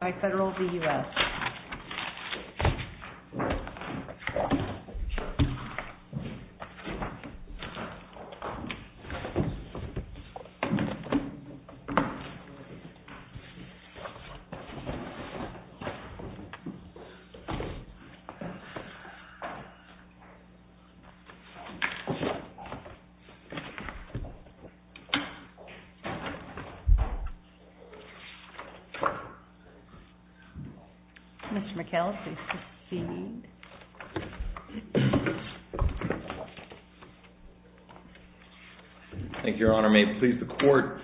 by Federal v. U.S. Mr. McHale, please proceed. Thank you, Your Honor. May it please the Court?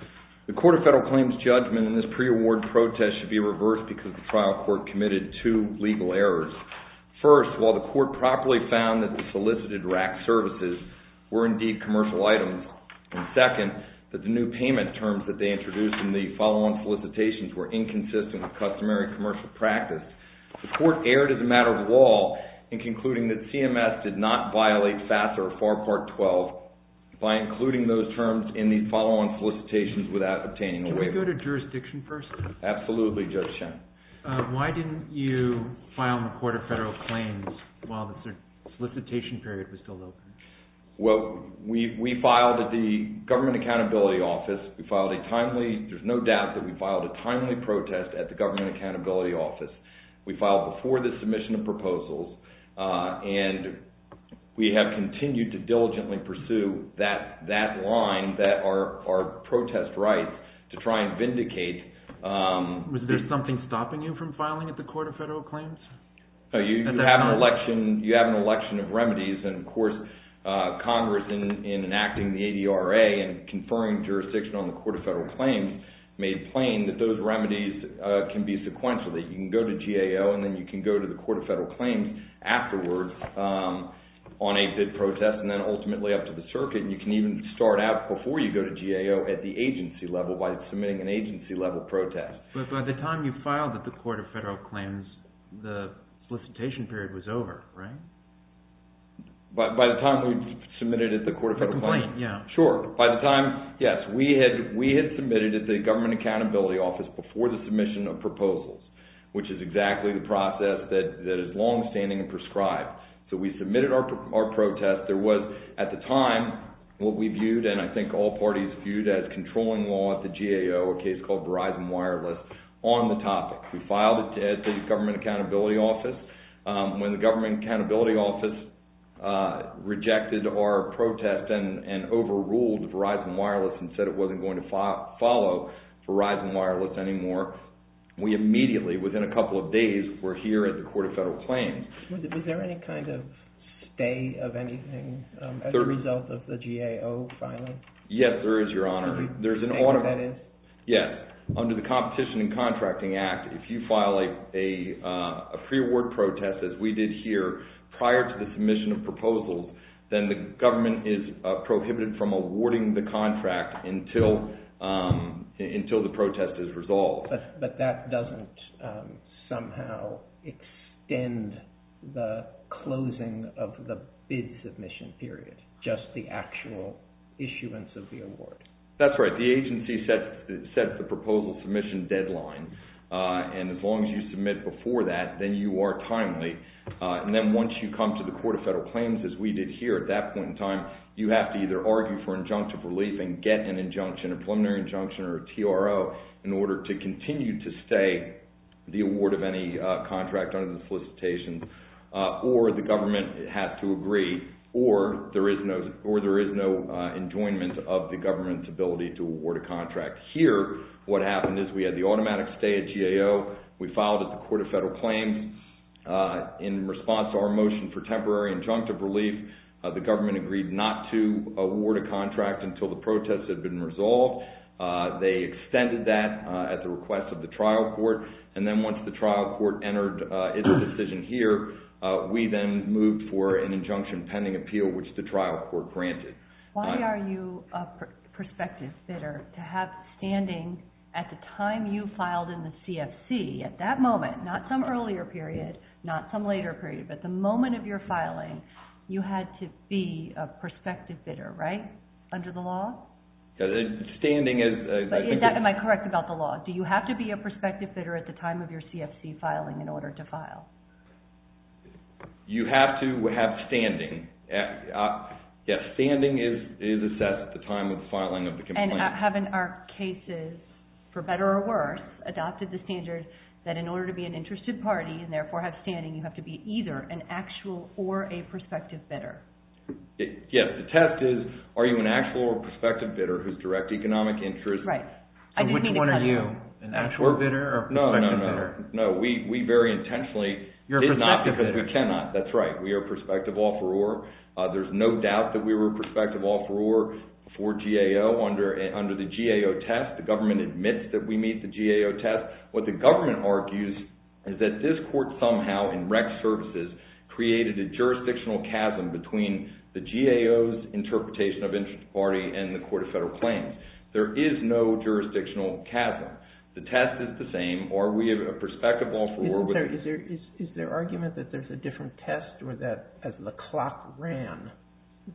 The Court of Federal Claims judgment in this pre-award protest should be reversed because the trial court committed two legal errors. First, while the Court properly found that the solicited RAC services were indeed commercial items, and second, that the new payment terms that they introduced in the follow-on solicitations were inconsistent with customary commercial practice, the Court erred as a matter of law in concluding that CMS did not violate FAFSA or FAR Part 12 by including those terms in the follow-on solicitations without obtaining a waiver. Can we go to jurisdiction first? Absolutely, Judge Shen. Why didn't you file in the Court of Federal Claims while the solicitation period was still open? Well, we filed at the Government Accountability Office. We filed a timely – there's no doubt that we filed a timely protest at the Government Accountability Office. We filed before the submission of proposals, and we have continued to diligently pursue that line that our protest rights to try and vindicate. Was there something stopping you from filing at the Court of Federal Claims? You have an election of remedies, and, of course, Congress, in enacting the ADRA and conferring jurisdiction on the Court of Federal Claims, made plain that those remedies can be sequential. You can go to GAO, and then you can go to the Court of Federal Claims afterwards on a bid protest, and then ultimately up to the circuit, and you can even start out before you go to GAO at the agency level by submitting an agency-level protest. But by the time you filed at the Court of Federal Claims, the solicitation period was over, right? By the time we submitted at the Court of Federal Claims? The complaint, yeah. Sure. By the time – yes, we had submitted at the Government Accountability Office before the submission of proposals, which is exactly the process that is longstanding and prescribed. So we submitted our protest. At the time, what we viewed, and I think all parties viewed, as controlling law at the GAO, a case called Verizon Wireless, on the topic. We filed it at the Government Accountability Office. When the Government Accountability Office rejected our protest and overruled Verizon Wireless and said it wasn't going to follow Verizon Wireless anymore, we immediately, within a couple of days, were here at the Court of Federal Claims. Was there any kind of stay of anything as a result of the GAO filing? Yes, there is, Your Honor. Do you think that is? Yes. Under the Competition and Contracting Act, if you file a pre-award protest, as we did here, prior to the submission of proposals, then the government is prohibited from awarding the contract until the protest is resolved. But that doesn't somehow extend the closing of the bid submission period, just the actual issuance of the award. That's right. The agency sets the proposal submission deadline. And as long as you submit before that, then you are timely. And then once you come to the Court of Federal Claims, as we did here at that point in time, you have to either argue for injunctive relief and get an injunction, a preliminary injunction or a TRO, in order to continue to stay the award of any contract under the solicitation, or the government has to agree, or there is no enjoyment of the government's ability to award a contract. Here, what happened is we had the automatic stay at GAO. We filed at the Court of Federal Claims. In response to our motion for temporary injunctive relief, the government agreed not to award a contract until the protest had been resolved. They extended that at the request of the trial court. And then once the trial court entered its decision here, we then moved for an injunction pending appeal, which the trial court granted. Why are you a prospective bidder to have standing at the time you filed in the CFC, at that moment, not some earlier period, not some later period, but the moment of your filing, you had to be a prospective bidder, right, under the law? Standing is... Am I correct about the law? Do you have to be a prospective bidder at the time of your CFC filing in order to file? You have to have standing. Yes, standing is assessed at the time of filing of the complaint. Having our cases, for better or worse, adopted the standards that in order to be an interested party and therefore have standing, you have to be either an actual or a prospective bidder. Yes, the test is are you an actual or a prospective bidder whose direct economic interest... Right. So which one are you, an actual bidder or a prospective bidder? No, no, no. We very intentionally did not because we cannot. That's right. We are a prospective offeror. There's no doubt that we were a prospective offeror for GAO under the GAO test. The government admits that we meet the GAO test. What the government argues is that this court somehow in rec services created a jurisdictional chasm between the GAO's interpretation of interest party and the Court of Federal Claims. There is no jurisdictional chasm. The test is the same. Are we a prospective offeror with...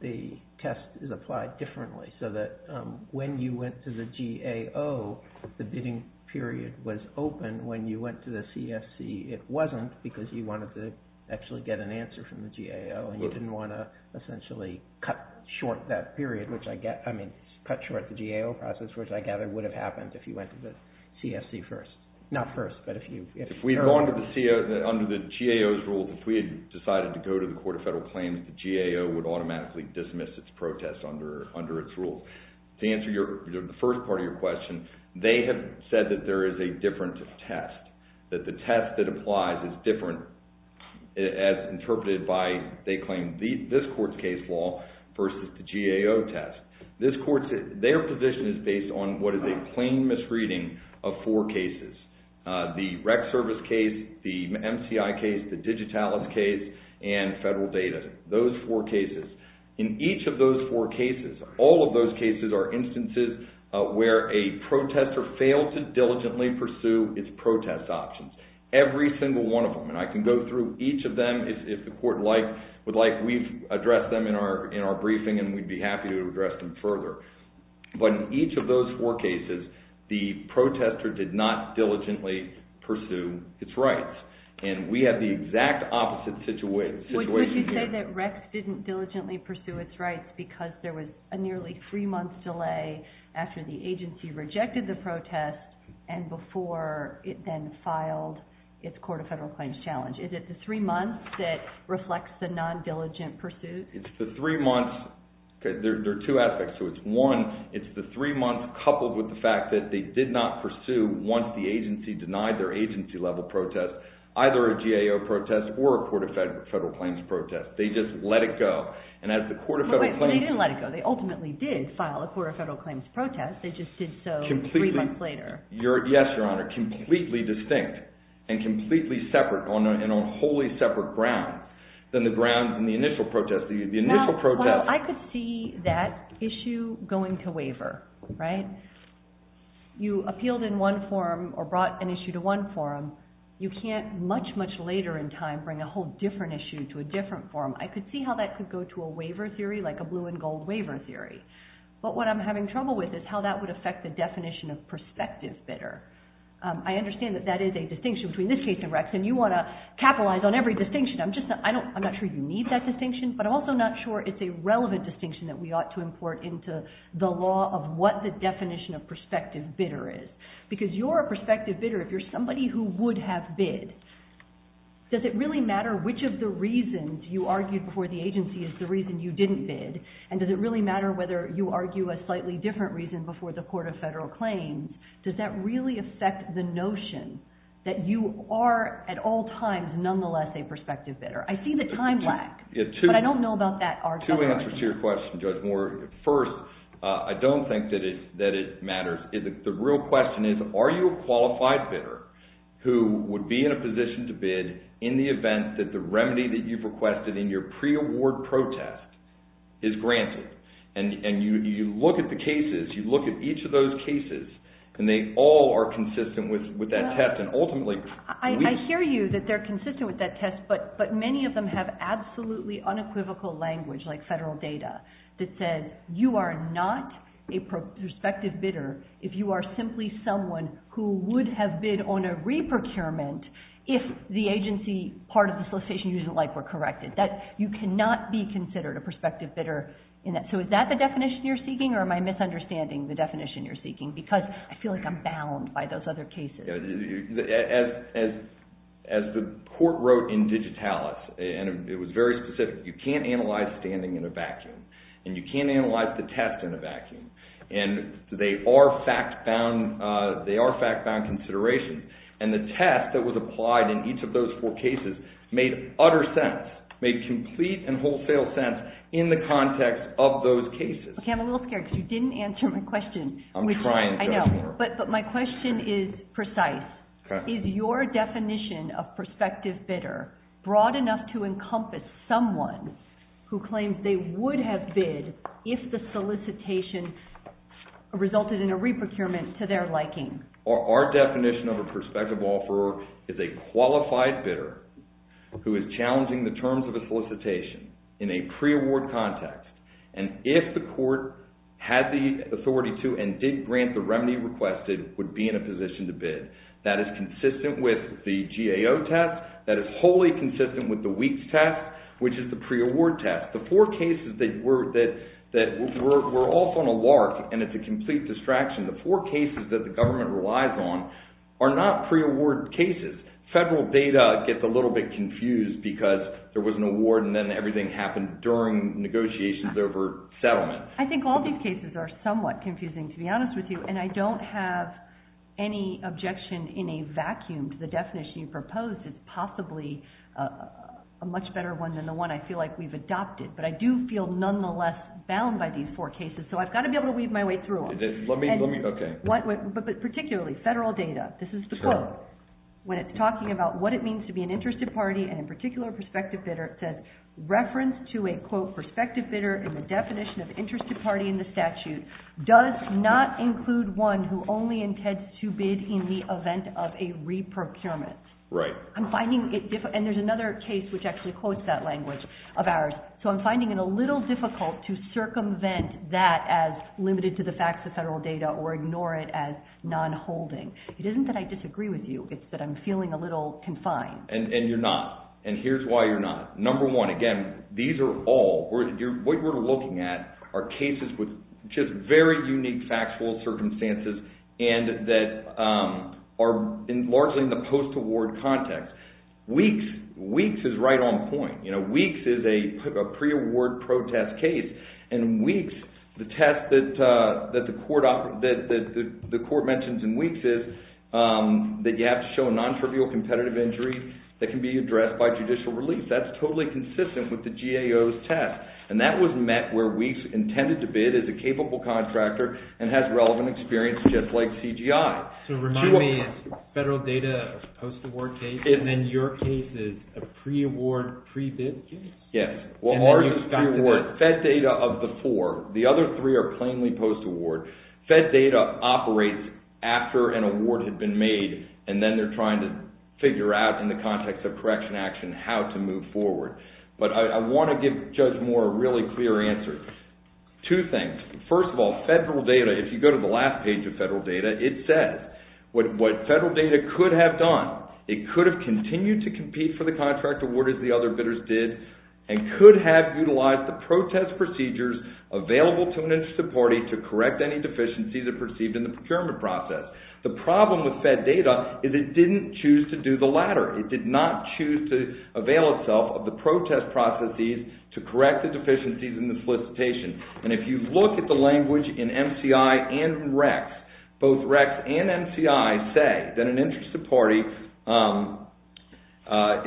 The test is applied differently so that when you went to the GAO, the bidding period was open. When you went to the CFC, it wasn't because you wanted to actually get an answer from the GAO and you didn't want to essentially cut short that period, which I mean cut short the GAO process, which I gather would have happened if you went to the CFC first. Not first, but if you... Under the GAO's rule, if we had decided to go to the Court of Federal Claims, the GAO would automatically dismiss its protest under its rule. To answer the first part of your question, they have said that there is a difference of test, that the test that applies is different as interpreted by, they claim, this court's case law versus the GAO test. Their position is based on what is a plain misreading of four cases. The rec service case, the MCI case, the Digitalis case, and federal data. Those four cases. In each of those four cases, all of those cases are instances where a protester failed to diligently pursue its protest options. Every single one of them, and I can go through each of them if the court would like. We've addressed them in our briefing and we'd be happy to address them further. But in each of those four cases, the protester did not diligently pursue its rights. And we have the exact opposite situation here. Would you say that RECS didn't diligently pursue its rights because there was a nearly three-month delay after the agency rejected the protest and before it then filed its Court of Federal Claims challenge? Is it the three months that reflects the non-diligent pursuit? It's the three months. There are two aspects to it. One, it's the three months coupled with the fact that they did not pursue, once the agency denied their agency-level protest, either a GAO protest or a Court of Federal Claims protest. They just let it go. But wait, they didn't let it go. They ultimately did file a Court of Federal Claims protest. They just did so three months later. Yes, Your Honor. And completely separate on a wholly separate ground than the grounds in the initial protest. The initial protest… Well, I could see that issue going to waiver, right? You appealed in one forum or brought an issue to one forum. You can't much, much later in time bring a whole different issue to a different forum. I could see how that could go to a waiver theory like a blue and gold waiver theory. But what I'm having trouble with is how that would affect the definition of prospective bidder. I understand that that is a distinction between this case and Rex, and you want to capitalize on every distinction. I'm not sure you need that distinction, but I'm also not sure it's a relevant distinction that we ought to import into the law of what the definition of prospective bidder is. Because you're a prospective bidder if you're somebody who would have bid. Does it really matter which of the reasons you argued before the agency is the reason you didn't bid? And does it really matter whether you argue a slightly different reason before the Court of Federal Claims? Does that really affect the notion that you are at all times, nonetheless, a prospective bidder? I see the time lag, but I don't know about that argument. Two answers to your question, Judge Moore. First, I don't think that it matters. The real question is, are you a qualified bidder who would be in a position to bid in the event that the remedy that you've requested in your pre-award protest is granted? And you look at the cases, you look at each of those cases, and they all are consistent with that test. I hear you that they're consistent with that test, but many of them have absolutely unequivocal language, like federal data, that says you are not a prospective bidder if you are simply someone who would have bid on a re-procurement if the agency part of the solicitation isn't likely corrected. You cannot be considered a prospective bidder in that. So is that the definition you're seeking, or am I misunderstanding the definition you're seeking? Because I feel like I'm bound by those other cases. As the Court wrote in Digitalis, and it was very specific, you can't analyze standing in a vacuum. And you can't analyze the test in a vacuum. And they are fact-bound considerations. And the test that was applied in each of those four cases made utter sense, made complete and wholesale sense in the context of those cases. Okay, I'm a little scared because you didn't answer my question. I'm trying to. I know, but my question is precise. Is your definition of prospective bidder broad enough to encompass someone who claims they would have bid if the solicitation resulted in a re-procurement to their liking? Our definition of a prospective offeror is a qualified bidder who is challenging the terms of a solicitation in a pre-award context. And if the Court had the authority to and did grant the remedy requested, would be in a position to bid. That is consistent with the GAO test. That is wholly consistent with the WEEKS test, which is the pre-award test. The four cases that were off on a lark, and it's a complete distraction, the four cases that the government relies on are not pre-award cases. Federal data gets a little bit confused because there was an award and then everything happened during negotiations over settlement. I think all these cases are somewhat confusing, to be honest with you, and I don't have any objection in a vacuum to the definition you proposed. It's possibly a much better one than the one I feel like we've adopted, but I do feel nonetheless bound by these four cases, so I've got to be able to weave my way through them. But particularly federal data, this is the quote. When it's talking about what it means to be an interested party and in particular a prospective bidder, it says, reference to a prospective bidder in the definition of interested party in the statute does not include one who only intends to bid in the event of a re-procurement. And there's another case which actually quotes that language of ours, so I'm finding it a little difficult to circumvent that as limited to the facts of federal data or ignore it as non-holding. It isn't that I disagree with you. It's that I'm feeling a little confined. And you're not, and here's why you're not. Number one, again, these are all, what we're looking at are cases with just very unique factual circumstances and that are largely in the post-award context. Weeks is right on point. Weeks is a pre-award protest case, and Weeks, the test that the court mentions in Weeks is that you have to show a non-trivial competitive injury that can be addressed by judicial release. That's totally consistent with the GAO's test, and that was met where Weeks intended to bid as a capable contractor and has relevant experience just like CGI. So remind me, it's federal data post-award case, and then your case is a pre-award pre-bid case? Yes. Fed data of the four. The other three are plainly post-award. Fed data operates after an award had been made, and then they're trying to figure out in the context of correction action how to move forward. But I want to give Judge Moore a really clear answer. Two things. First of all, federal data, if you go to the last page of federal data, it says what federal data could have done. It could have continued to compete for the contract award as the other bidders did, and could have utilized the protest procedures available to an interested party to correct any deficiencies that are perceived in the procurement process. The problem with fed data is it didn't choose to do the latter. It did not choose to avail itself of the protest processes to correct the deficiencies in the solicitation. And if you look at the language in MCI and RECS, both RECS and MCI say that an interested party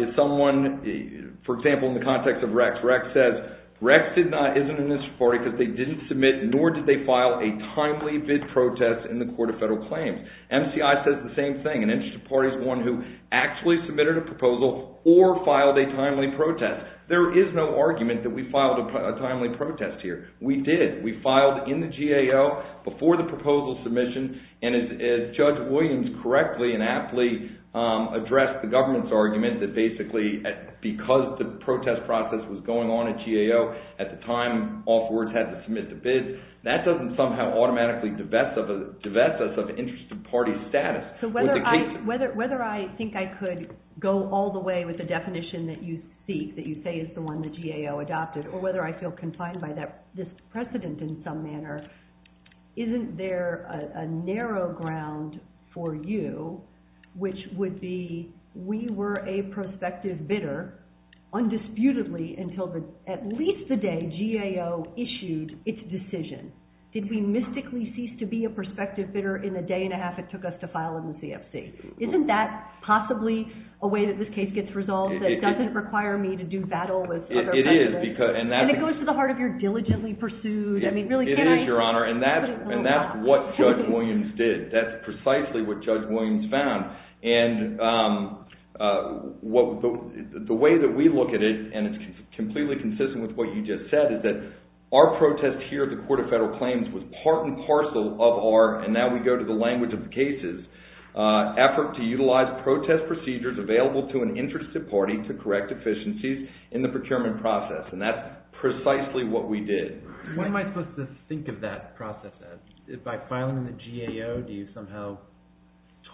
is someone, for example, in the context of RECS. RECS says RECS isn't an interested party because they didn't submit nor did they file a timely bid protest in the court of federal claims. MCI says the same thing. An interested party is one who actually submitted a proposal or filed a timely protest. There is no argument that we filed a timely protest here. We did. We filed in the GAO before the proposal submission, and as Judge Williams correctly and aptly addressed the government's argument that basically because the protest process was going on at GAO at the time, and afterwards had to submit the bid, that doesn't somehow automatically divest us of interested party status. So whether I think I could go all the way with the definition that you seek, that you say is the one the GAO adopted, or whether I feel confined by this precedent in some manner, isn't there a narrow ground for you, which would be we were a prospective bidder undisputedly until at least the day GAO issued its decision. Did we mystically cease to be a prospective bidder in the day and a half it took us to file in the CFC? Isn't that possibly a way that this case gets resolved that doesn't require me to do battle with other evidence? It is. And it goes to the heart of your diligently pursued, I mean, really, can I put it in a little box? It is, Your Honor, and that's what Judge Williams did. That's precisely what Judge Williams found. And the way that we look at it, and it's completely consistent with what you just said, is that our protest here at the Court of Federal Claims was part and parcel of our, and now we go to the language of the cases, effort to utilize protest procedures available to an interested party to correct deficiencies in the procurement process. And that's precisely what we did. What am I supposed to think of that process as? By filing in the GAO, do you somehow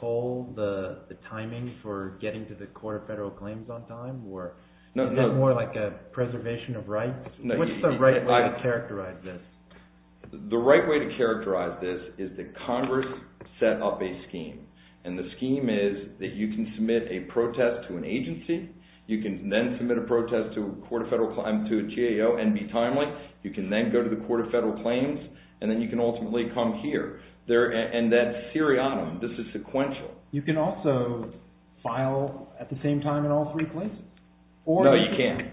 toll the timing for getting to the Court of Federal Claims on time, or is that more like a preservation of rights? What's the right way to characterize this? The right way to characterize this is that Congress set up a scheme, and the scheme is that you can submit a protest to an agency, you can then submit a protest to a GAO and be timely, you can then go to the Court of Federal Claims, and then you can ultimately come here. And that's seriatim. This is sequential. You can also file at the same time in all three places? No, you can't.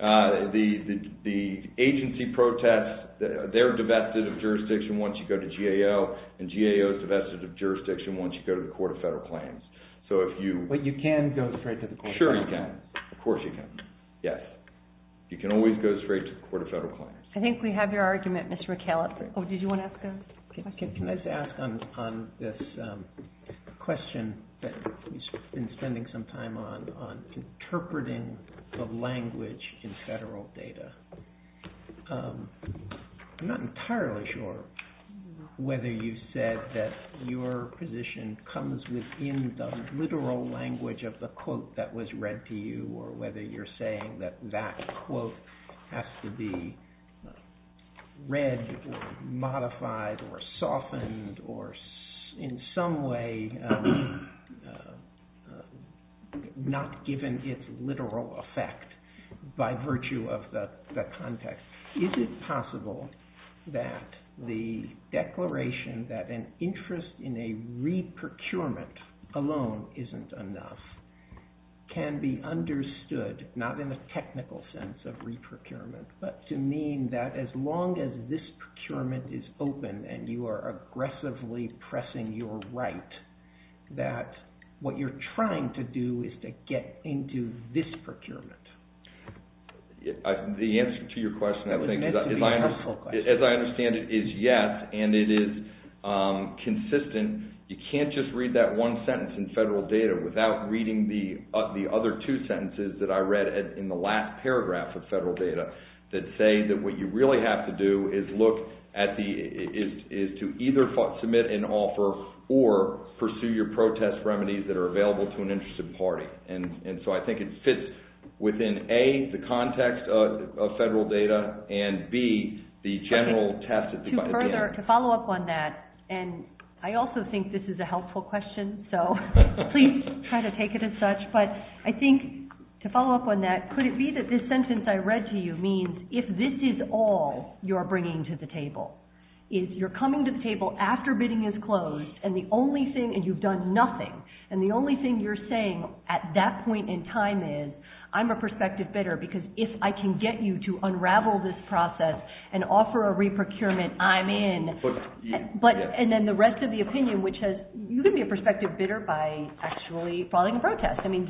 The agency protests, they're divested of jurisdiction once you go to GAO, and GAO is divested of jurisdiction once you go to the Court of Federal Claims. But you can go straight to the Court of Federal Claims? Sure you can. Of course you can. Yes. You can always go straight to the Court of Federal Claims. I think we have your argument, Mr. McAllister. Oh, did you want to ask a question? Can I just ask on this question that we've been spending some time on, on interpreting of language in federal data. I'm not entirely sure whether you said that your position comes within the literal language of the quote that was read to you, or whether you're saying that that quote has to be read or modified or softened or in some way not given its literal effect by virtue of the context. Is it possible that the declaration that an interest in a re-procurement alone isn't enough can be understood, not in a technical sense of re-procurement, but to mean that as long as this procurement is open and you are aggressively pressing your right, that what you're trying to do is to get into this procurement? The answer to your question, I think, as I understand it, is yes, and it is consistent. You can't just read that one sentence in federal data without reading the other two sentences that I read in the last paragraph of federal data that say that what you really have to do is to either submit an offer or pursue your protest remedies that are available to an interested party. And so I think it fits within A, the context of federal data, and B, the general test at the end. To follow up on that, and I also think this is a helpful question, so please try to take it as such, but I think to follow up on that, could it be that this sentence I read to you means if this is all you're bringing to the table, is you're coming to the table after bidding is closed and you've done nothing, and the only thing you're saying at that point in time is, I'm a prospective bidder because if I can get you to unravel this process and offer a re-procurement, I'm in. And then the rest of the opinion, which has, you can be a prospective bidder by actually following a protest. I mean,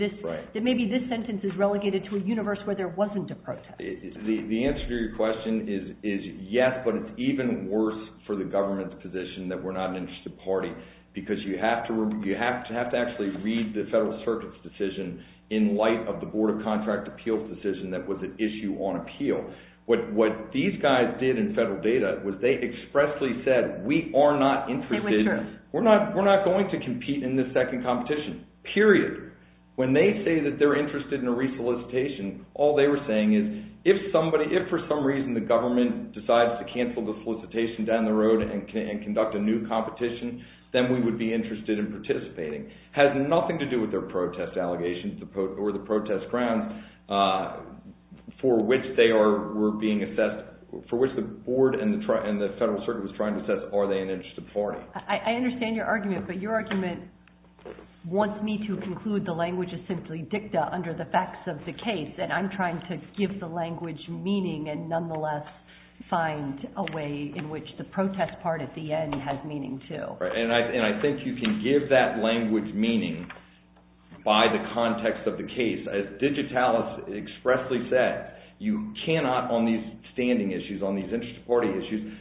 maybe this sentence is relegated to a universe where there wasn't a protest. The answer to your question is yes, but it's even worse for the government's position that we're not an interested party because you have to actually read the Federal Circuit's decision in light of the Board of Contract Appeals' decision that was an issue on appeal. What these guys did in federal data was they expressly said, we are not interested, we're not going to compete in this second competition, period. When they say that they're interested in a re-solicitation, all they were saying is, if somebody, if for some reason the government decides to cancel the solicitation down the road and conduct a new competition, then we would be interested in participating. It has nothing to do with their protest allegations or the protest grounds for which they were being assessed, for which the board and the Federal Circuit was trying to assess, are they an interested party. I understand your argument, but your argument wants me to conclude the language is simply dicta under the facts of the case, and I'm trying to give the language meaning and nonetheless find a way in which the protest part at the end has meaning too. And I think you can give that language meaning by the context of the case. As Digitalis expressly said, you cannot on these standing issues, on these interest party issues,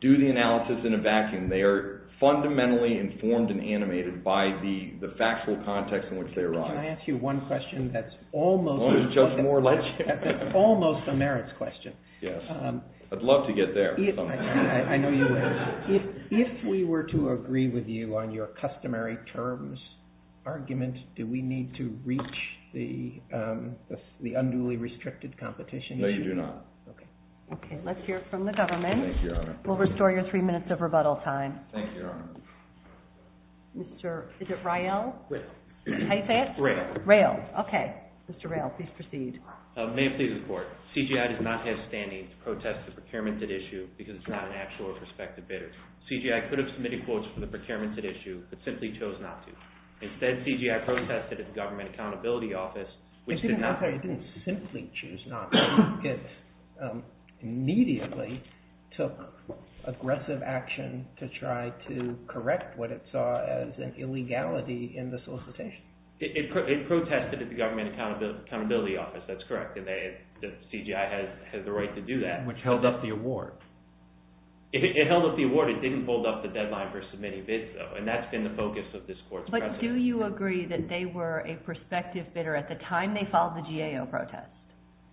do the analysis in a vacuum. They are fundamentally informed and animated by the factual context in which they arise. Can I ask you one question that's almost a merits question? Yes, I'd love to get there. I know you would. If we were to agree with you on your customary terms argument, do we need to reach the unduly restricted competition? No, you do not. Okay, let's hear from the government. Thank you, Your Honor. We'll restore your three minutes of rebuttal time. Thank you, Your Honor. Is it Rael? Rael. How do you say it? Rael. Rael, okay. Mr. Rael, please proceed. May it please the Court. CGI does not have standing to protest the procurement at issue because it's not an actual or prospective bidder. CGI could have submitted quotes for the procurement at issue, but simply chose not to. Instead, CGI protested at the Government Accountability Office, which did not… as an illegality in the solicitation. It protested at the Government Accountability Office. That's correct. CGI has the right to do that. Which held up the award. It held up the award. It didn't hold up the deadline for submitting bids, though, and that's been the focus of this Court's process. But do you agree that they were a prospective bidder at the time they filed the GAO protest?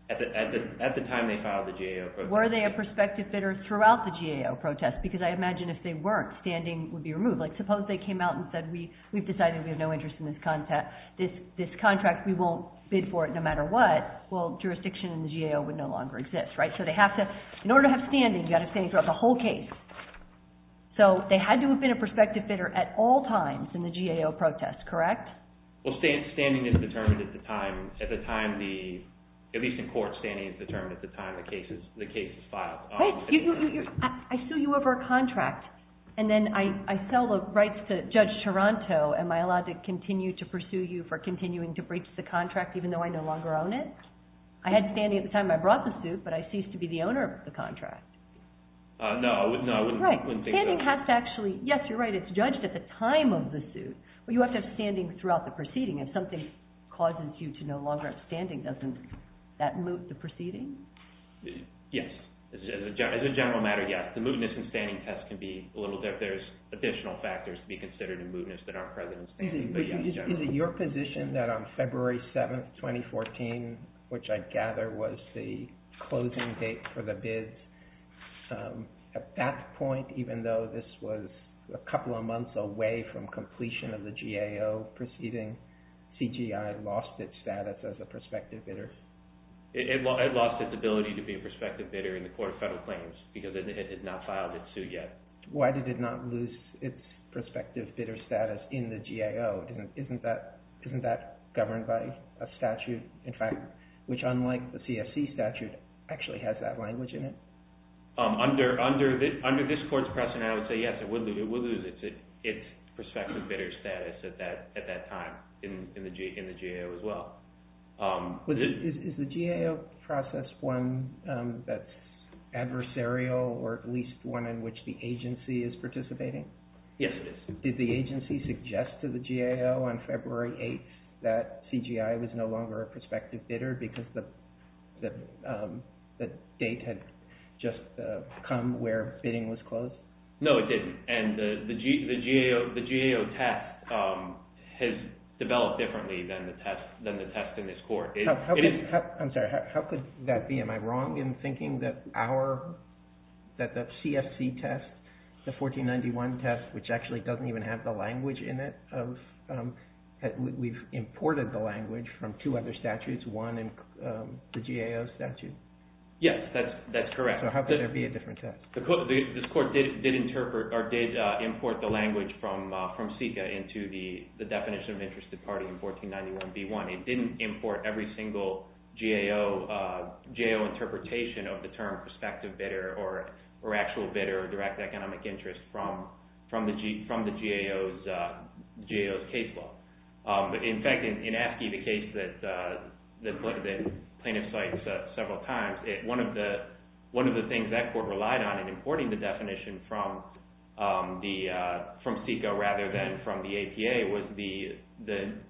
At the time they filed the GAO protest. Were they a prospective bidder throughout the GAO protest? Because I imagine if they weren't, standing would be removed. Like, suppose they came out and said, we've decided we have no interest in this contract. We won't bid for it no matter what. Well, jurisdiction in the GAO would no longer exist, right? So they have to… In order to have standing, you've got to have standing throughout the whole case. So they had to have been a prospective bidder at all times in the GAO protest, correct? Well, standing is determined at the time the… I sue you over a contract, and then I sell the rights to Judge Taranto. Am I allowed to continue to pursue you for continuing to breach the contract even though I no longer own it? I had standing at the time I brought the suit, but I ceased to be the owner of the contract. No, I wouldn't think so. Standing has to actually… Yes, you're right, it's judged at the time of the suit. But you have to have standing throughout the proceeding. If something causes you to no longer have standing, doesn't that move the proceeding? Yes. As a general matter, yes. The mootness and standing test can be a little… There's additional factors to be considered in mootness that aren't present in standing, but yes, generally. Is it your position that on February 7, 2014, which I gather was the closing date for the bids, at that point, even though this was a couple of months away from completion of the GAO proceeding, CGI lost its status as a prospective bidder? It lost its ability to be a prospective bidder in the Court of Federal Claims because it had not filed its suit yet. Why did it not lose its prospective bidder status in the GAO? Isn't that governed by a statute, in fact, which unlike the CFC statute, actually has that language in it? Under this Court's precedent, I would say yes, it will lose its prospective bidder status at that time in the GAO as well. Is the GAO process one that's adversarial or at least one in which the agency is participating? Yes, it is. Did the agency suggest to the GAO on February 8 that CGI was no longer a prospective bidder because the date had just come where bidding was closed? No, it didn't. And the GAO test has developed differently than the test in this Court. I'm sorry, how could that be? Am I wrong in thinking that the CFC test, the 1491 test, which actually doesn't even have the language in it, we've imported the language from two other statutes, one in the GAO statute? Yes, that's correct. So how could there be a different test? This Court did import the language from CICA into the definition of interested party in 1491b1. It didn't import every single GAO interpretation of the term prospective bidder or actual bidder, direct economic interest from the GAO's case law. In fact, in AFSCME, the case that the plaintiff cites several times, one of the things that Court relied on in importing the definition from CICA rather than from the APA was the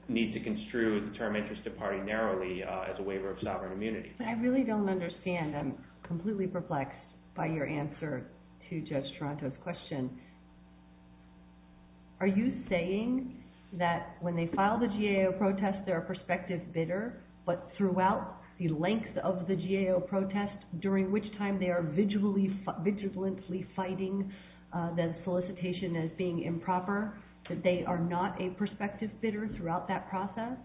need to construe the term interested party narrowly as a waiver of sovereign immunity. I really don't understand. I'm completely perplexed by your answer to Judge Toronto's question. Are you saying that when they file the GAO protest, they're a prospective bidder, but throughout the length of the GAO protest, during which time they are vigilantly fighting the solicitation as being improper, that they are not a prospective bidder throughout that process?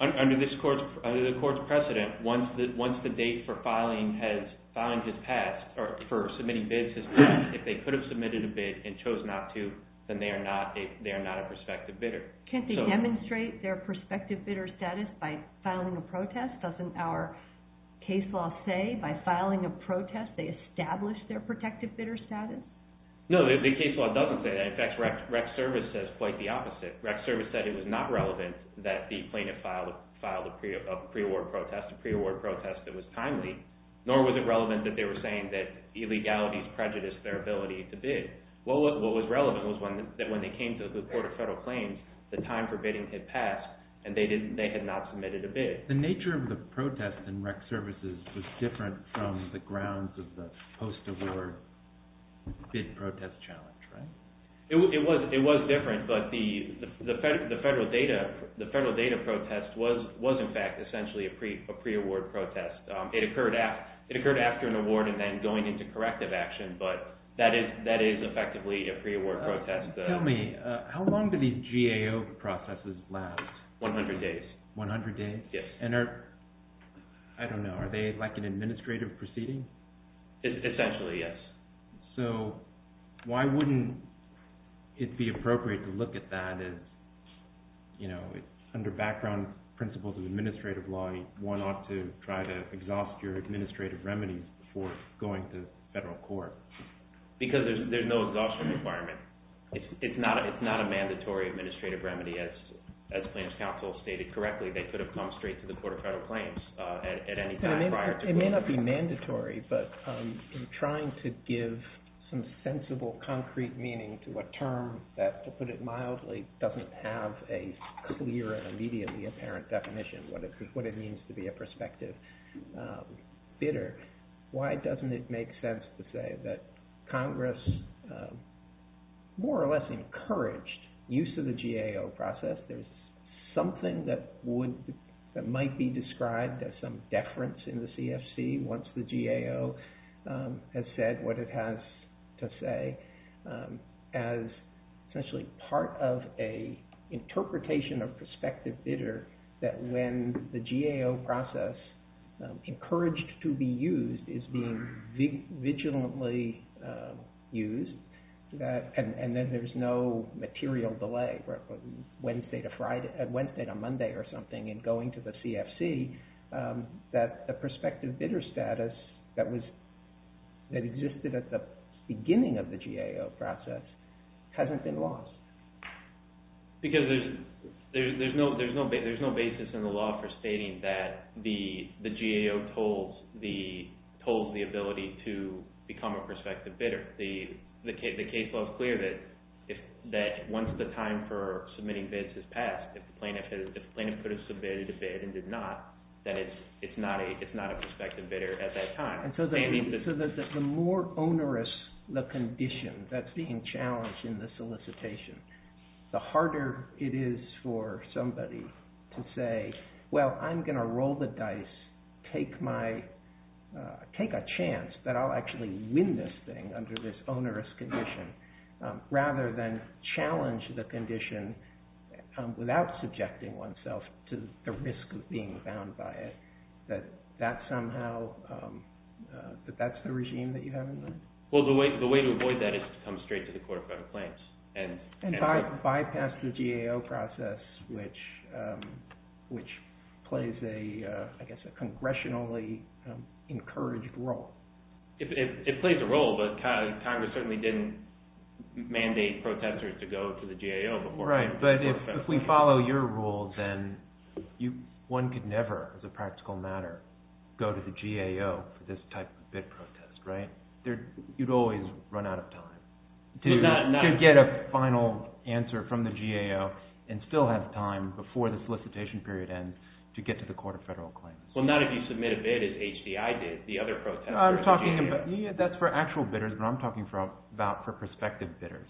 Under the Court's precedent, once the date for filing has passed, or for submitting bids has passed, if they could have submitted a bid and chose not to, then they are not a prospective bidder. Can't they demonstrate their prospective bidder status by filing a protest? Doesn't our case law say by filing a protest, they establish their prospective bidder status? No, the case law doesn't say that. In fact, REC Service says quite the opposite. REC Service said it was not relevant that the plaintiff filed a pre-award protest, a pre-award protest that was timely, nor was it relevant that they were saying that illegalities prejudiced their ability to bid. What was relevant was that when they came to the Court of Federal Claims, the time for bidding had passed and they had not submitted a bid. The nature of the protest in REC Services was different from the grounds of the post-award bid protest challenge, right? It was different, but the federal data protest was in fact essentially a pre-award protest. It occurred after an award and then going into corrective action, but that is effectively a pre-award protest. Tell me, how long do these GAO processes last? 100 days. 100 days? Yes. And are, I don't know, are they like an administrative proceeding? Essentially, yes. So, why wouldn't it be appropriate to look at that as, you know, under background principles of administrative law, you want to try to exhaust your administrative remedies before going to federal court? Because there's no exhaustion requirement. It's not a mandatory administrative remedy. As Plans Council stated correctly, they could have come straight to the Court of Federal Claims at any time prior. It may not be mandatory, but in trying to give some sensible, concrete meaning to a term that, to put it mildly, doesn't have a clear and immediately apparent definition, what it means to be a prospective bidder, why doesn't it make sense to say that Congress more or less encouraged use of the GAO process? There's something that might be described as some deference in the CFC, once the GAO has said what it has to say, as essentially part of an interpretation of prospective bidder, that when the GAO process, encouraged to be used, is being vigilantly used, and then there's no material delay, Wednesday to Friday, Wednesday to Monday or something, in going to the CFC, that the prospective bidder status that existed at the beginning of the GAO process hasn't been lost. Because there's no basis in the law for stating that the GAO tolls the ability to become a prospective bidder. The case law is clear that once the time for submitting bids has passed, if the plaintiff could have submitted a bid and did not, that it's not a prospective bidder at that time. So the more onerous the condition that's being challenged in the solicitation, the harder it is for somebody to say, well, I'm going to roll the dice, take a chance that I'll actually win this thing under this onerous condition, rather than challenge the condition without subjecting oneself to the risk of being bound by it. That somehow, that that's the regime that you have in mind? Well, the way to avoid that is to come straight to the Court of Federal Claims. And bypass the GAO process, which plays a, I guess, a congressionally encouraged role. It plays a role, but Congress certainly didn't mandate protesters to go to the GAO before. Right, but if we follow your rule, then one could never, as a practical matter, go to the GAO for this type of bid protest, right? You'd always run out of time to get a final answer from the GAO and still have time before the solicitation period ends to get to the Court of Federal Claims. Well, not if you submit a bid as HDI did, the other protesters. That's for actual bidders, but I'm talking about for prospective bidders.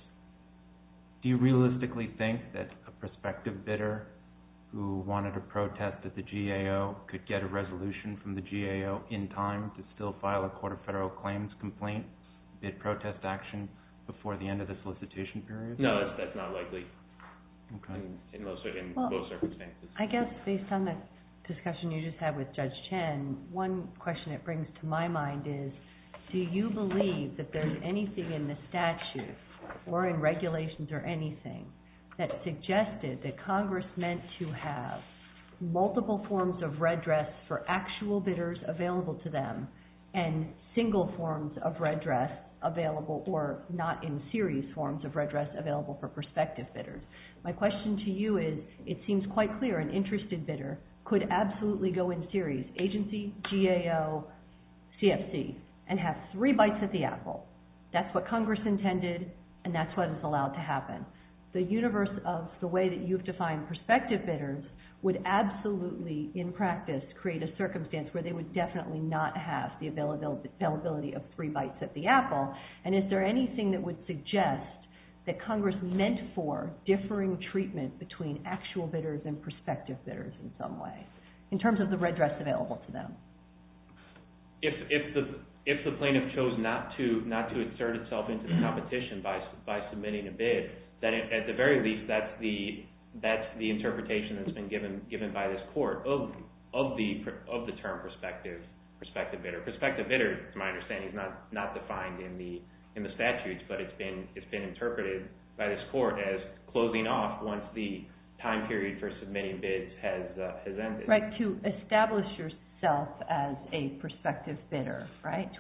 Do you realistically think that a prospective bidder who wanted to protest at the GAO could get a resolution from the GAO in time to still file a Court of Federal Claims complaint, bid protest action, before the end of the solicitation period? No, that's not likely. In most circumstances. I guess, based on the discussion you just had with Judge Chen, one question it brings to my mind is, do you believe that there's anything in the statute or in regulations or anything that suggested that Congress meant to have multiple forms of redress for actual bidders available to them and single forms of redress available or not in series forms of redress available for prospective bidders? My question to you is, it seems quite clear an interested bidder could absolutely go in series, agency, GAO, CFC, and have three bites at the apple. That's what Congress intended, and that's what is allowed to happen. The universe of the way that you've defined prospective bidders would absolutely, in practice, create a circumstance where they would definitely not have the availability of three bites at the apple, and is there anything that would suggest that Congress meant for differing treatment between actual bidders and prospective bidders in some way? In terms of the redress available to them. If the plaintiff chose not to insert itself into the competition by submitting a bid, then at the very least that's the interpretation that's been given by this court of the term prospective bidder. Prospective bidder, to my understanding, is not defined in the statutes, but it's been interpreted by this court as closing off once the time period for submitting bids has ended. Right, to establish yourself as a prospective bidder, right?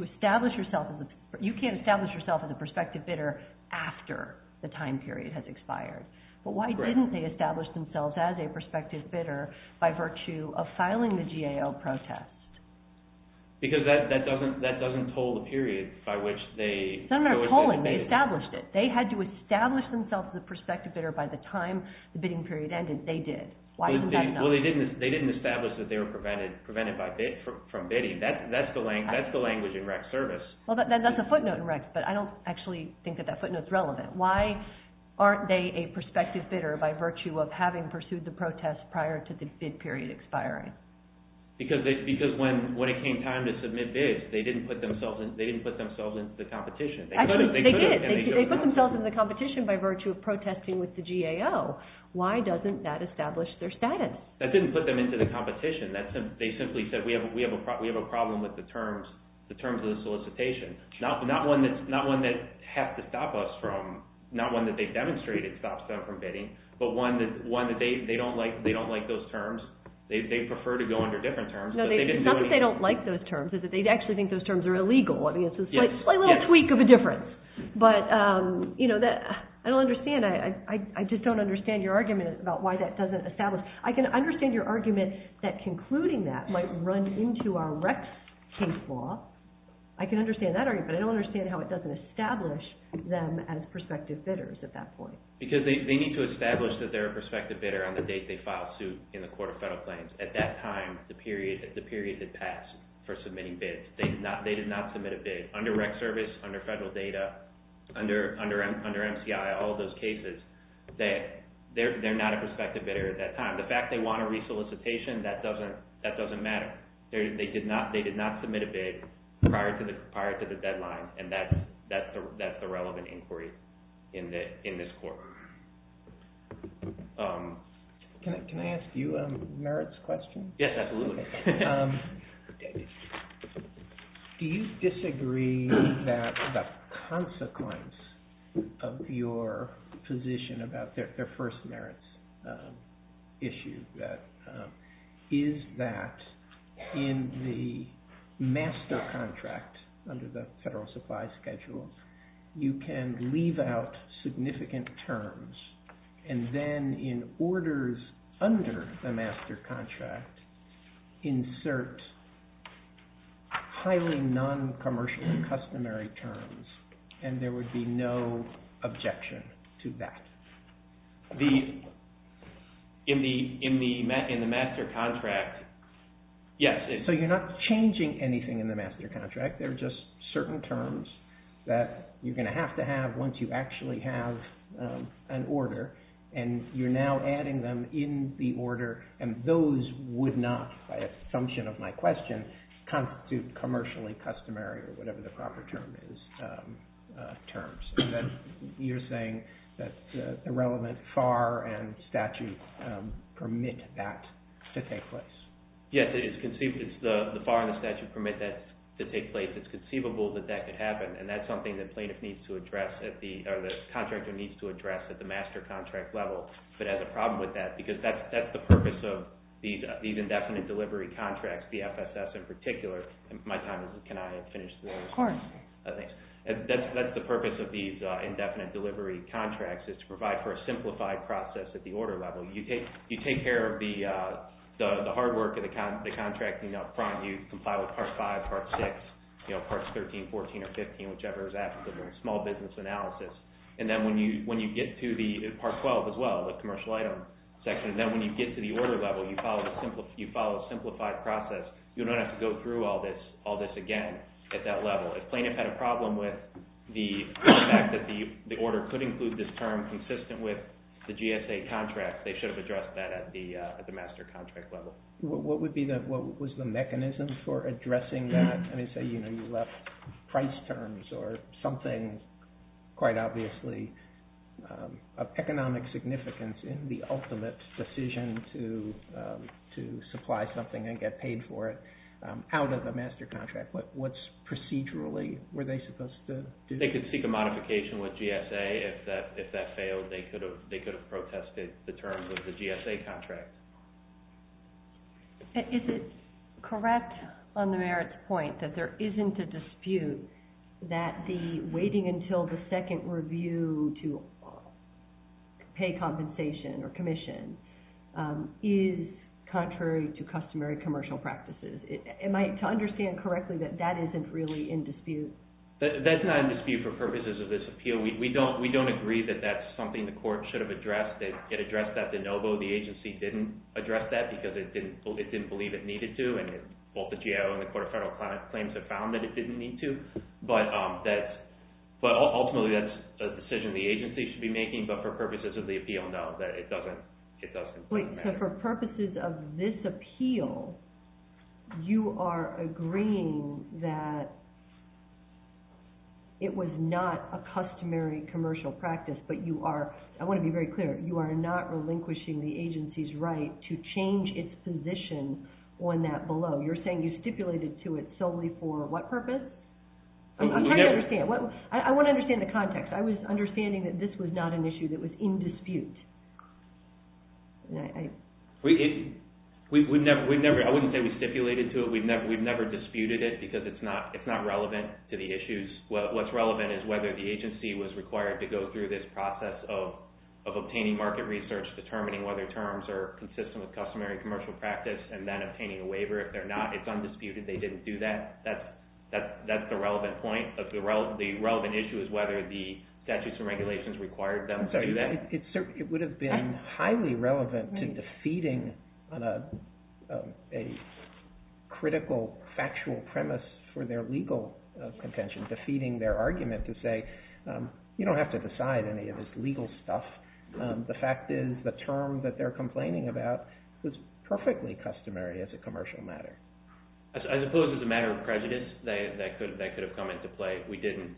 You can't establish yourself as a prospective bidder after the time period has expired. But why didn't they establish themselves as a prospective bidder by virtue of filing the GAO protest? Because that doesn't toll the period by which they... It's not a matter of tolling, they established it. They had to establish themselves as a prospective bidder by the time the bidding period ended. They did. Well, they didn't establish that they were prevented from bidding. That's the language in rec service. That's a footnote in rec, but I don't actually think that that footnote is relevant. Why aren't they a prospective bidder by virtue of having pursued the protest prior to the bid period expiring? Because when it came time to submit bids, they didn't put themselves into the competition. They did. They put themselves into the competition by virtue of protesting with the GAO. Why doesn't that establish their status? That didn't put them into the competition. They simply said we have a problem with the terms of the solicitation. Not one that has to stop us from, not one that they've demonstrated stops them from bidding, but one that they don't like those terms. They prefer to go under different terms. No, it's not that they don't like those terms. It's that they actually think those terms are illegal. It's a slight little tweak of a difference. I don't understand. I just don't understand your argument about why that doesn't establish. I can understand your argument that concluding that might run into our rec case law. I can understand that argument. I don't understand how it doesn't establish them as prospective bidders at that point. Because they need to establish that they're a prospective bidder on the date they filed suit in the Court of Federal Claims. At that time, the period had passed for submitting bids. They did not submit a bid. Under rec service, under federal data, under MCI, all those cases, they're not a prospective bidder at that time. The fact they want a re-solicitation, that doesn't matter. They did not submit a bid prior to the deadline, and that's the relevant inquiry in this court. Can I ask you a merits question? Yes, absolutely. Do you disagree that the consequence of your position about their first merits issue is that in the master contract under the Federal Supply Schedule, you can leave out significant terms, and then in orders under the master contract, insert highly non-commercial customary terms, and there would be no objection to that? In the master contract, yes. So you're not changing anything in the master contract. They're just certain terms that you're going to have to have once you actually have an order, and you're now adding them in the order, and those would not, by assumption of my question, constitute commercially customary, or whatever the proper term is, terms. You're saying that the relevant FAR and statute permit that to take place? Yes, the FAR and the statute permit that to take place. It's conceivable that that could happen, and that's something that plaintiff needs to address, or the contractor needs to address at the master contract level. But it has a problem with that, because that's the purpose of these indefinite delivery contracts, the FSS in particular. My time is up. Can I finish this? Of course. Thanks. That's the purpose of these indefinite delivery contracts, is to provide for a simplified process at the order level. You take care of the hard work of the contracting up front. You comply with Part 5, Part 6, Parts 13, 14, or 15, whichever is applicable, small business analysis. And then when you get to the Part 12 as well, the commercial item section, and then when you get to the order level, you follow a simplified process. You don't have to go through all this again at that level. If plaintiff had a problem with the fact that the order could include this term consistent with the GSA contract, they should have addressed that at the master contract level. What was the mechanism for addressing that? Say you left price terms or something quite obviously of economic significance in the ultimate decision to supply something and get paid for it out of the master contract. What procedurally were they supposed to do? They could seek a modification with GSA. If that failed, they could have protested the terms of the GSA contract. Is it correct on the merits point that there isn't a dispute that the waiting until the second review to pay compensation or commission is contrary to customary commercial practices? Am I to understand correctly that that isn't really in dispute? That's not in dispute for purposes of this appeal. We don't agree that that's something the court should have addressed. It addressed that de novo. The agency didn't address that because it didn't believe it needed to. Both the GAO and the Court of Federal Claims have found that it didn't need to. But ultimately, that's a decision the agency should be making. But for purposes of the appeal, no, it doesn't matter. Wait, so for purposes of this appeal, you are agreeing that it was not a customary commercial practice, but you are, I want to be very clear, you are not relinquishing the agency's right to change its position on that below. You're saying you stipulated to it solely for what purpose? I'm trying to understand. I want to understand the context. I was understanding that this was not an issue that was in dispute. I wouldn't say we stipulated to it. We've never disputed it because it's not relevant to the issues. What's relevant is whether the agency was required to go through this process of obtaining market research, determining whether terms are consistent with customary commercial practice, and then obtaining a waiver. If they're not, it's undisputed they didn't do that. That's the relevant point. The relevant issue is whether the statutes and regulations required them to do that. It would have been highly relevant to defeating a critical factual premise for their legal contention, defeating their argument to say you don't have to decide any of this legal stuff. The fact is the term that they're complaining about was perfectly customary as a commercial matter. I suppose it's a matter of prejudice that could have come into play. We didn't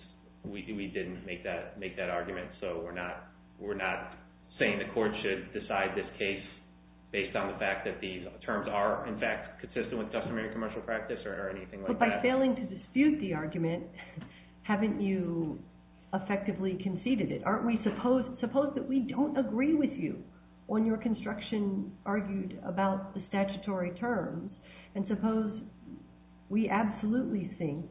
make that argument, so we're not saying the court should decide this case based on the fact that these terms are, in fact, consistent with customary commercial practice or anything like that. But by failing to dispute the argument, haven't you effectively conceded it? Suppose that we don't agree with you on your construction argued about the statutory terms, and suppose we absolutely think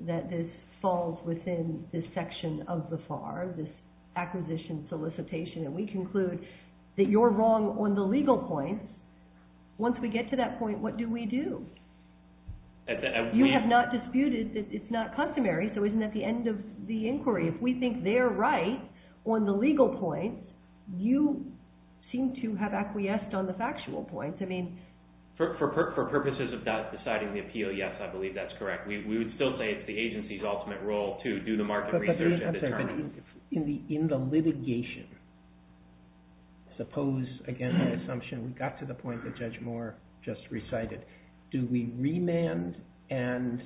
that this falls within this section of the FAR, this acquisition solicitation, and we conclude that you're wrong on the legal point. Once we get to that point, what do we do? You have not disputed that it's not customary, so isn't that the end of the inquiry? If we think they're right on the legal point, you seem to have acquiesced on the factual point. For purposes of deciding the appeal, yes, I believe that's correct. We would still say it's the agency's ultimate role to do the market research and determine. In the litigation, suppose, again, the assumption we got to the point that Judge Moore just recited, do we remand, and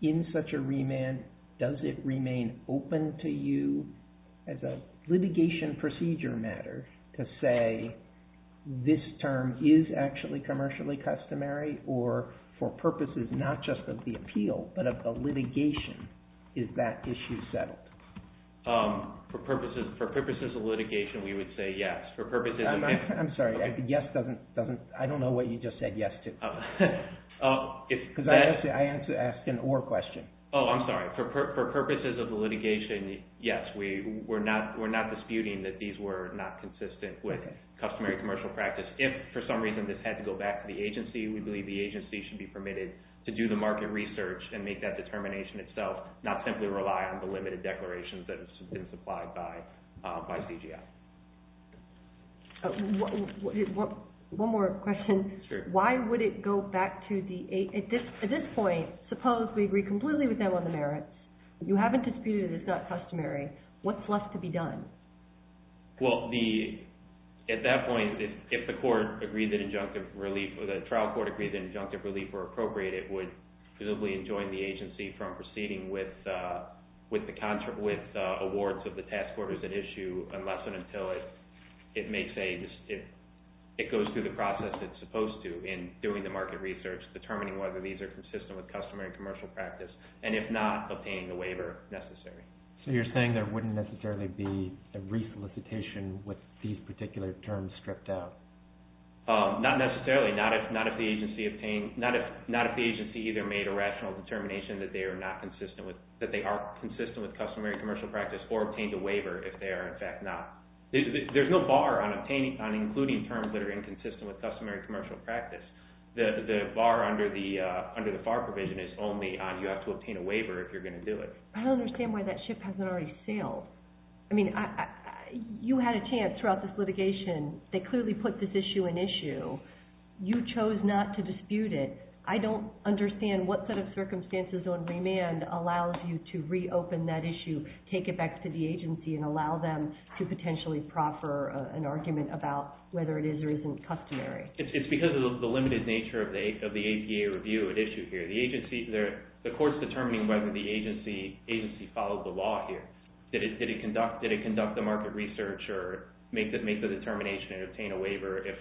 in such a remand, does it remain open to you as a litigation procedure matter to say this term is actually commercially customary, or for purposes not just of the appeal, but of the litigation, is that issue settled? For purposes of litigation, we would say yes. I'm sorry, yes doesn't, I don't know what you just said yes to. Because I asked an or question. Oh, I'm sorry. For purposes of the litigation, yes, we're not disputing that these were not consistent with customary commercial practice. If for some reason this had to go back to the agency, we believe the agency should be permitted to do the market research and make that determination itself, not simply rely on the limited declarations that have been supplied by CGI. One more question. Sure. Why would it go back to the, at this point, suppose we agree completely with them on the merits, you haven't disputed it's not customary, what's left to be done? Well, at that point, if the court agreed that injunctive relief, or the trial court agreed that injunctive relief were appropriate, it would presumably enjoin the agency from proceeding with awards of the task orders at issue unless and until it makes a, it goes through the process it's supposed to in doing the market research, determining whether these are consistent with customary commercial practice, and if not, obtaining the waiver necessary. So you're saying there wouldn't necessarily be a re-solicitation with these particular terms stripped out? Not necessarily, not if the agency obtained, not if the agency either made a rational determination that they are not consistent with, that they are consistent with customary commercial practice or obtained a waiver if they are in fact not. There's no bar on obtaining, on including terms that are inconsistent with customary commercial practice. The bar under the FAR provision is only on you have to obtain a waiver if you're going to do it. I don't understand why that ship hasn't already sailed. I mean, you had a chance throughout this litigation. They clearly put this issue in issue. You chose not to dispute it. I don't understand what set of circumstances on remand allows you to reopen that issue, take it back to the agency and allow them to potentially proffer an argument about whether it is or isn't customary. It's because of the limited nature of the APA review at issue here. The agency, the court's determining whether the agency followed the law here. Did it conduct the market research or make the determination to obtain a waiver if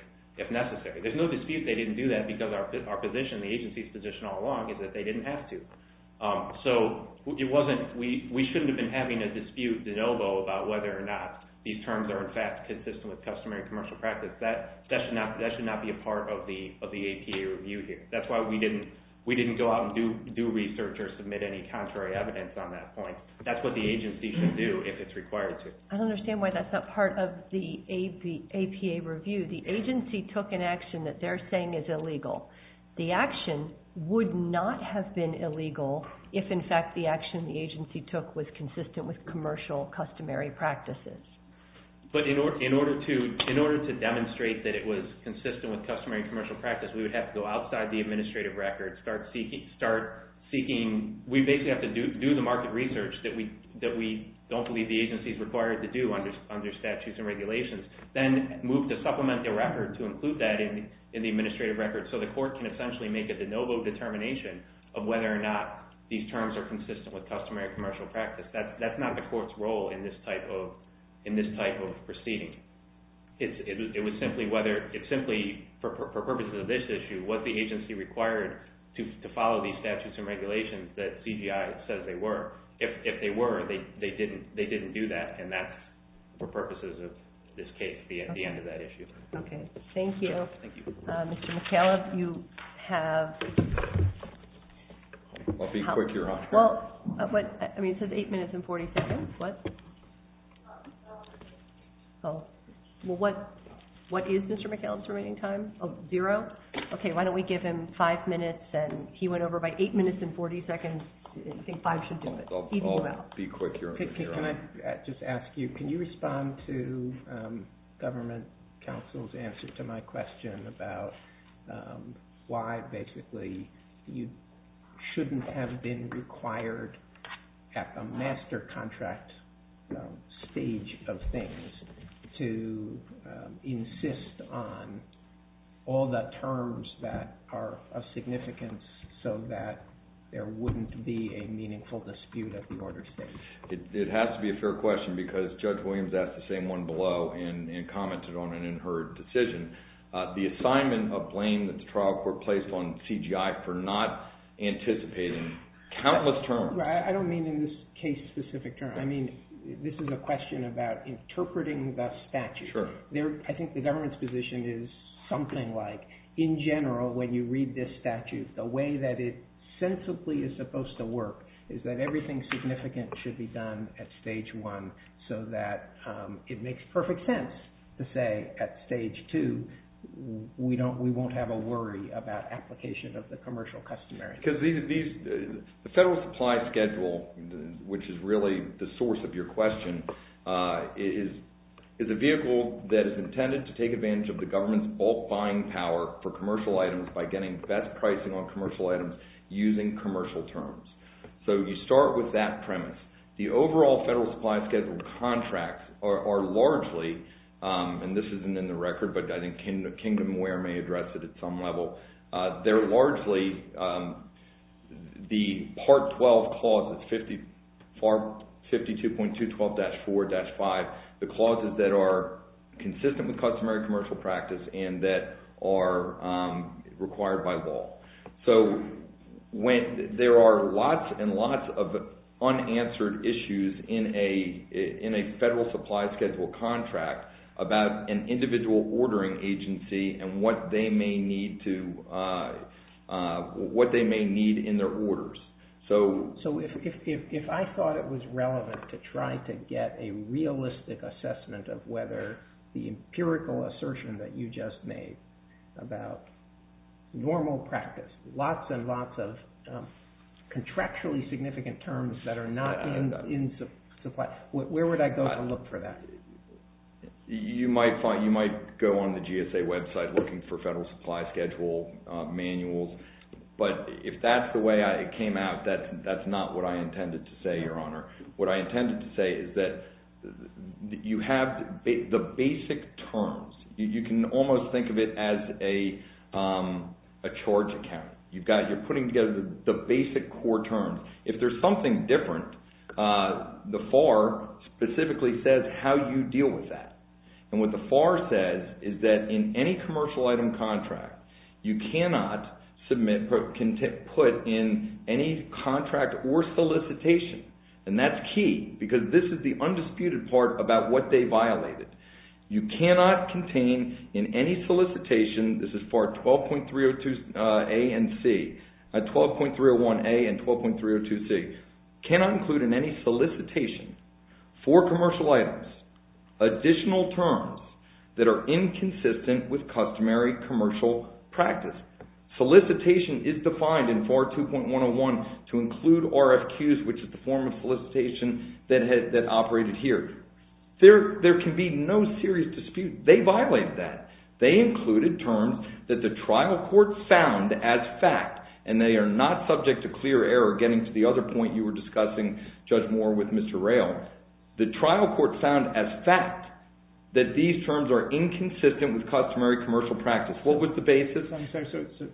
necessary? There's no dispute they didn't do that because our position, the agency's position all along, is that they didn't have to. So we shouldn't have been having a dispute de novo about whether or not these terms are, in fact, consistent with customary commercial practice. That should not be a part of the APA review here. That's why we didn't go out and do research or submit any contrary evidence on that point. That's what the agency should do if it's required to. I don't understand why that's not part of the APA review. The agency took an action that they're saying is illegal. The action would not have been illegal if, in fact, the action the agency took was consistent with commercial customary practices. But in order to demonstrate that it was consistent with customary commercial practice, we would have to go outside the administrative record, start seeking. We basically have to do the market research that we don't believe the agency is required to do under statutes and regulations, then move to supplement the record to include that in the administrative record so the court can essentially make a de novo determination of whether or not these terms are consistent with customary commercial practice. That's not the court's role in this type of proceeding. It's simply for purposes of this issue, what the agency required to follow these statutes and regulations that CGI says they were. If they were, they didn't do that, and that's for purposes of this case, the end of that issue. Okay, thank you. Thank you. Mr. McAuliffe, you have... I'll be quick here. Well, I mean, it says 8 minutes and 40 seconds. What? Well, what is Mr. McAuliffe's remaining time? Oh, zero? Okay, why don't we give him 5 minutes, and he went over by 8 minutes and 40 seconds. I think 5 should do it. I'll be quick here. Can I just ask you, can you respond to government counsel's answer to my question about why basically you shouldn't have been required at the master contract stage of things to insist on all the terms that are of significance so that there wouldn't be a meaningful dispute at the order stage? It has to be a fair question because Judge Williams asked the same one below and commented on it in her decision. The assignment of blame that the trial court placed on CGI for not anticipating countless terms... I don't mean in this case specific terms. I mean, this is a question about interpreting the statute. Sure. I think the government's position is something like, in general, when you read this statute, the way that it sensibly is supposed to work is that everything significant should be done at stage one so that it makes perfect sense to say at stage two, we won't have a worry about application of the commercial customary. The federal supply schedule, which is really the source of your question, is a vehicle that is intended to take advantage of the government's bulk buying power for commercial items by getting best pricing on commercial items using commercial terms. So you start with that premise. The overall federal supply schedule contracts are largely, and this isn't in the record, but I think Kingdomware may address it at some level. They're largely the Part 12 clauses, 52.212-4-5, the clauses that are consistent with customary commercial practice and that are required by law. So there are lots and lots of unanswered issues in a federal supply schedule contract about an individual ordering agency and what they may need in their orders. So if I thought it was relevant to try to get a realistic assessment of whether the federal supply schedule is a vehicle that is intended to take advantage of the government's I think that's a good point. You can almost think of it as a charge account. You're putting together the basic core terms. If there's something different, the FAR specifically says how you deal with that. And what the FAR says is that in any commercial item contract, you cannot put in any contract or solicitation, and that's key because this is the undisputed part about what they violated. You cannot contain in any solicitation, this is FAR 12.301A and 12.302C, cannot include in any solicitation for commercial items additional terms that are inconsistent with customary commercial practice. Solicitation is defined in FAR 2.101 to include RFQs, which is the form of solicitation that operated here. There can be no serious dispute. They violated that. They included terms that the trial court found as fact, and they are not subject to clear error, getting to the other point you were discussing, Judge Moore, with Mr. Rayl. The trial court found as fact that these terms are inconsistent with customary commercial practice. What was the basis? I'm sorry,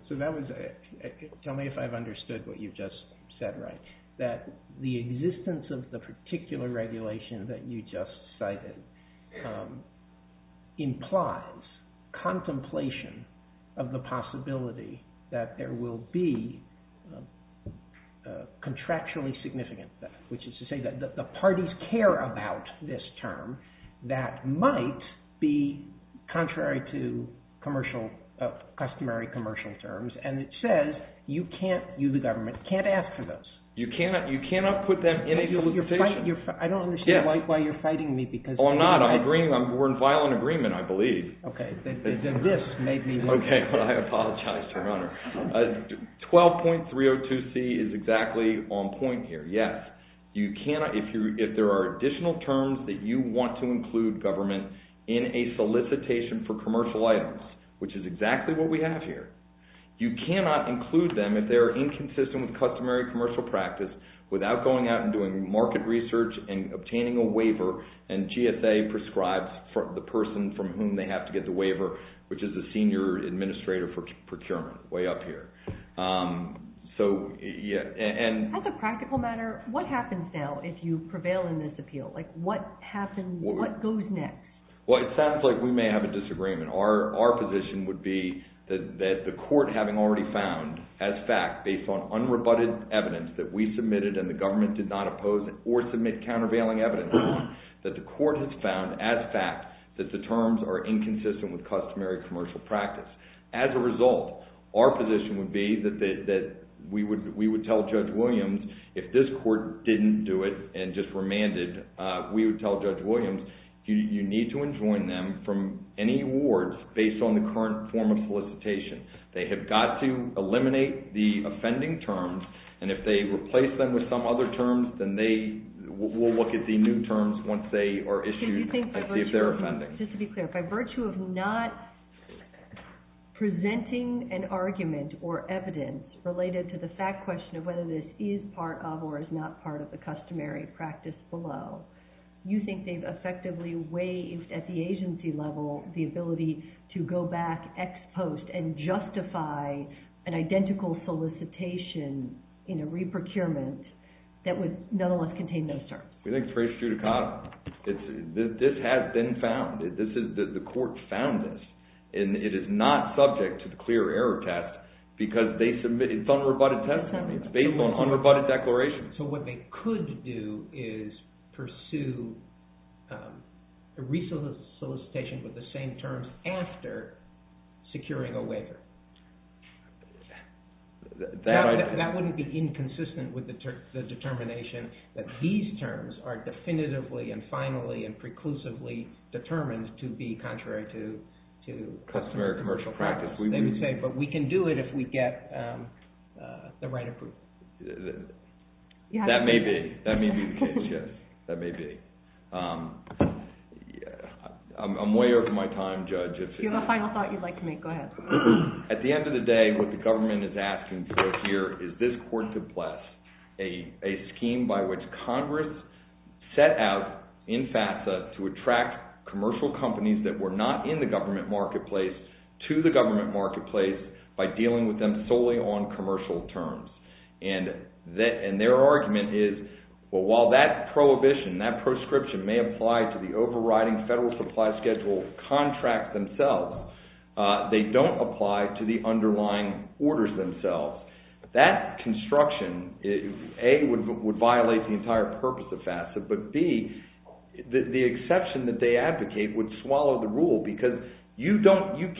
so that was a... Tell me if I've understood what you've just said right, that the existence of the particular regulation that you just cited implies contemplation of the possibility that there will be contractually significant theft, which is to say that the parties care about this term that might be contrary to customary commercial terms, and it says you, the government, can't ask for those. You cannot put them in a solicitation. I don't understand why you're fighting me because... Oh, I'm not. I'm agreeing. We're in violent agreement, I believe. Okay. Then this made me... Okay. I apologize, Your Honor. 12.302c is exactly on point here. Yes. You cannot, if there are additional terms that you want to include, government, in a solicitation for commercial items, which is exactly what we have here, you cannot include them if they are inconsistent with customary commercial practice without going out and doing market research and obtaining a waiver, and GSA prescribes the person from whom they have to get the waiver, which is the senior administrator for procurement, way up here. So, yeah, and... As a practical matter, what happens now if you prevail in this appeal? Like, what happens, what goes next? Well, it sounds like we may have a disagreement. Our position would be that the court, having already found, as fact, based on unrebutted evidence that we submitted and the government did not oppose or submit countervailing evidence, that the court has found, as fact, that the terms are inconsistent with customary commercial practice. As a result, our position would be that we would tell Judge Williams, if this court didn't do it and just remanded, we would tell Judge Williams, you need to enjoin them from any awards based on the current form of solicitation. They have got to eliminate the offending terms, and if they replace them with some other terms, then they will look at the new terms once they are issued as if they're offending. Just to be clear, by virtue of not presenting an argument or evidence related to the fact question of whether this is part of or is not part of the customary practice below, you think they've effectively waived, at the agency level, the ability to go back ex post and justify an identical solicitation in a re-procurement that would nonetheless contain those terms? We think it's very true to cost. This has been found. The court found this, and it is not subject to the clear error test because it's unrebutted testimony. It's based on unrebutted declaration. So what they could do is pursue a re-solicitation with the same terms after securing a waiver. That wouldn't be inconsistent with the determination that these terms are definitively and finally and preclusively determined to be contrary to... Customary commercial practice. They would say, but we can do it if we get the right approval. That may be. That may be the case, yes. That may be. I'm way over my time, Judge. If you have a final thought you'd like to make, go ahead. At the end of the day, what the government is asking for here is this court to bless a scheme by which Congress set out in FAFSA to attract commercial companies that were not in the government marketplace to the government marketplace by dealing with them solely on commercial terms. And their argument is, well, while that prohibition, that proscription may apply to the overriding federal supply schedule contracts themselves, they don't apply to the underlying orders themselves. That construction, A, would violate the entire purpose of FAFSA, but B, the exception that they advocate would swallow the rule because you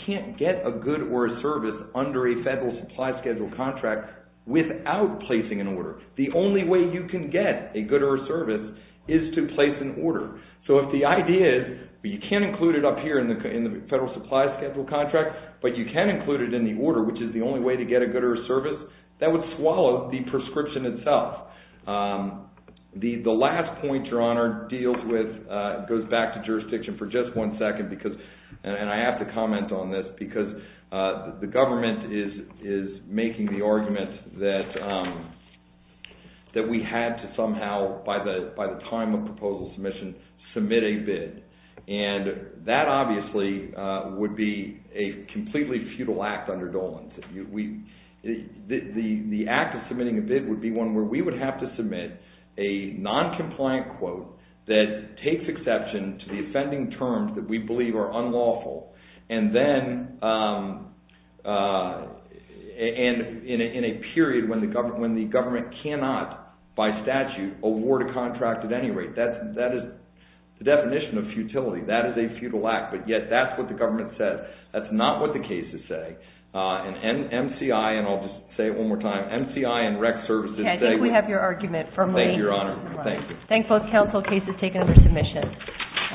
can't get a good or a service under a federal supply schedule contract without placing an order. The only way you can get a good or a service is to place an order. So if the idea is you can't include it up here in the federal supply schedule contract, but you can include it in the order, which is the only way to get a good or a service, that would swallow the proscription itself. The last point Your Honor deals with goes back to jurisdiction for just one second, and I have to comment on this because the government is making the argument that we had to somehow, by the time of proposal submission, submit a bid. And that obviously would be a completely futile act under Dolan's. The act of submitting a bid would be one where we would have to submit a noncompliant quote that takes exception to the offending terms that we believe are unlawful, and then in a period when the government cannot, by statute, award a contract at any rate. That is the definition of futility. That is a futile act, but yet that's what the government says. That's not what the cases say, and MCI, and I'll just say it one more time, MCI and rec services say that. Okay, I think we have your argument firmly. Thank you, Your Honor. Thank you. Thank both counsel. Case is taken for submission.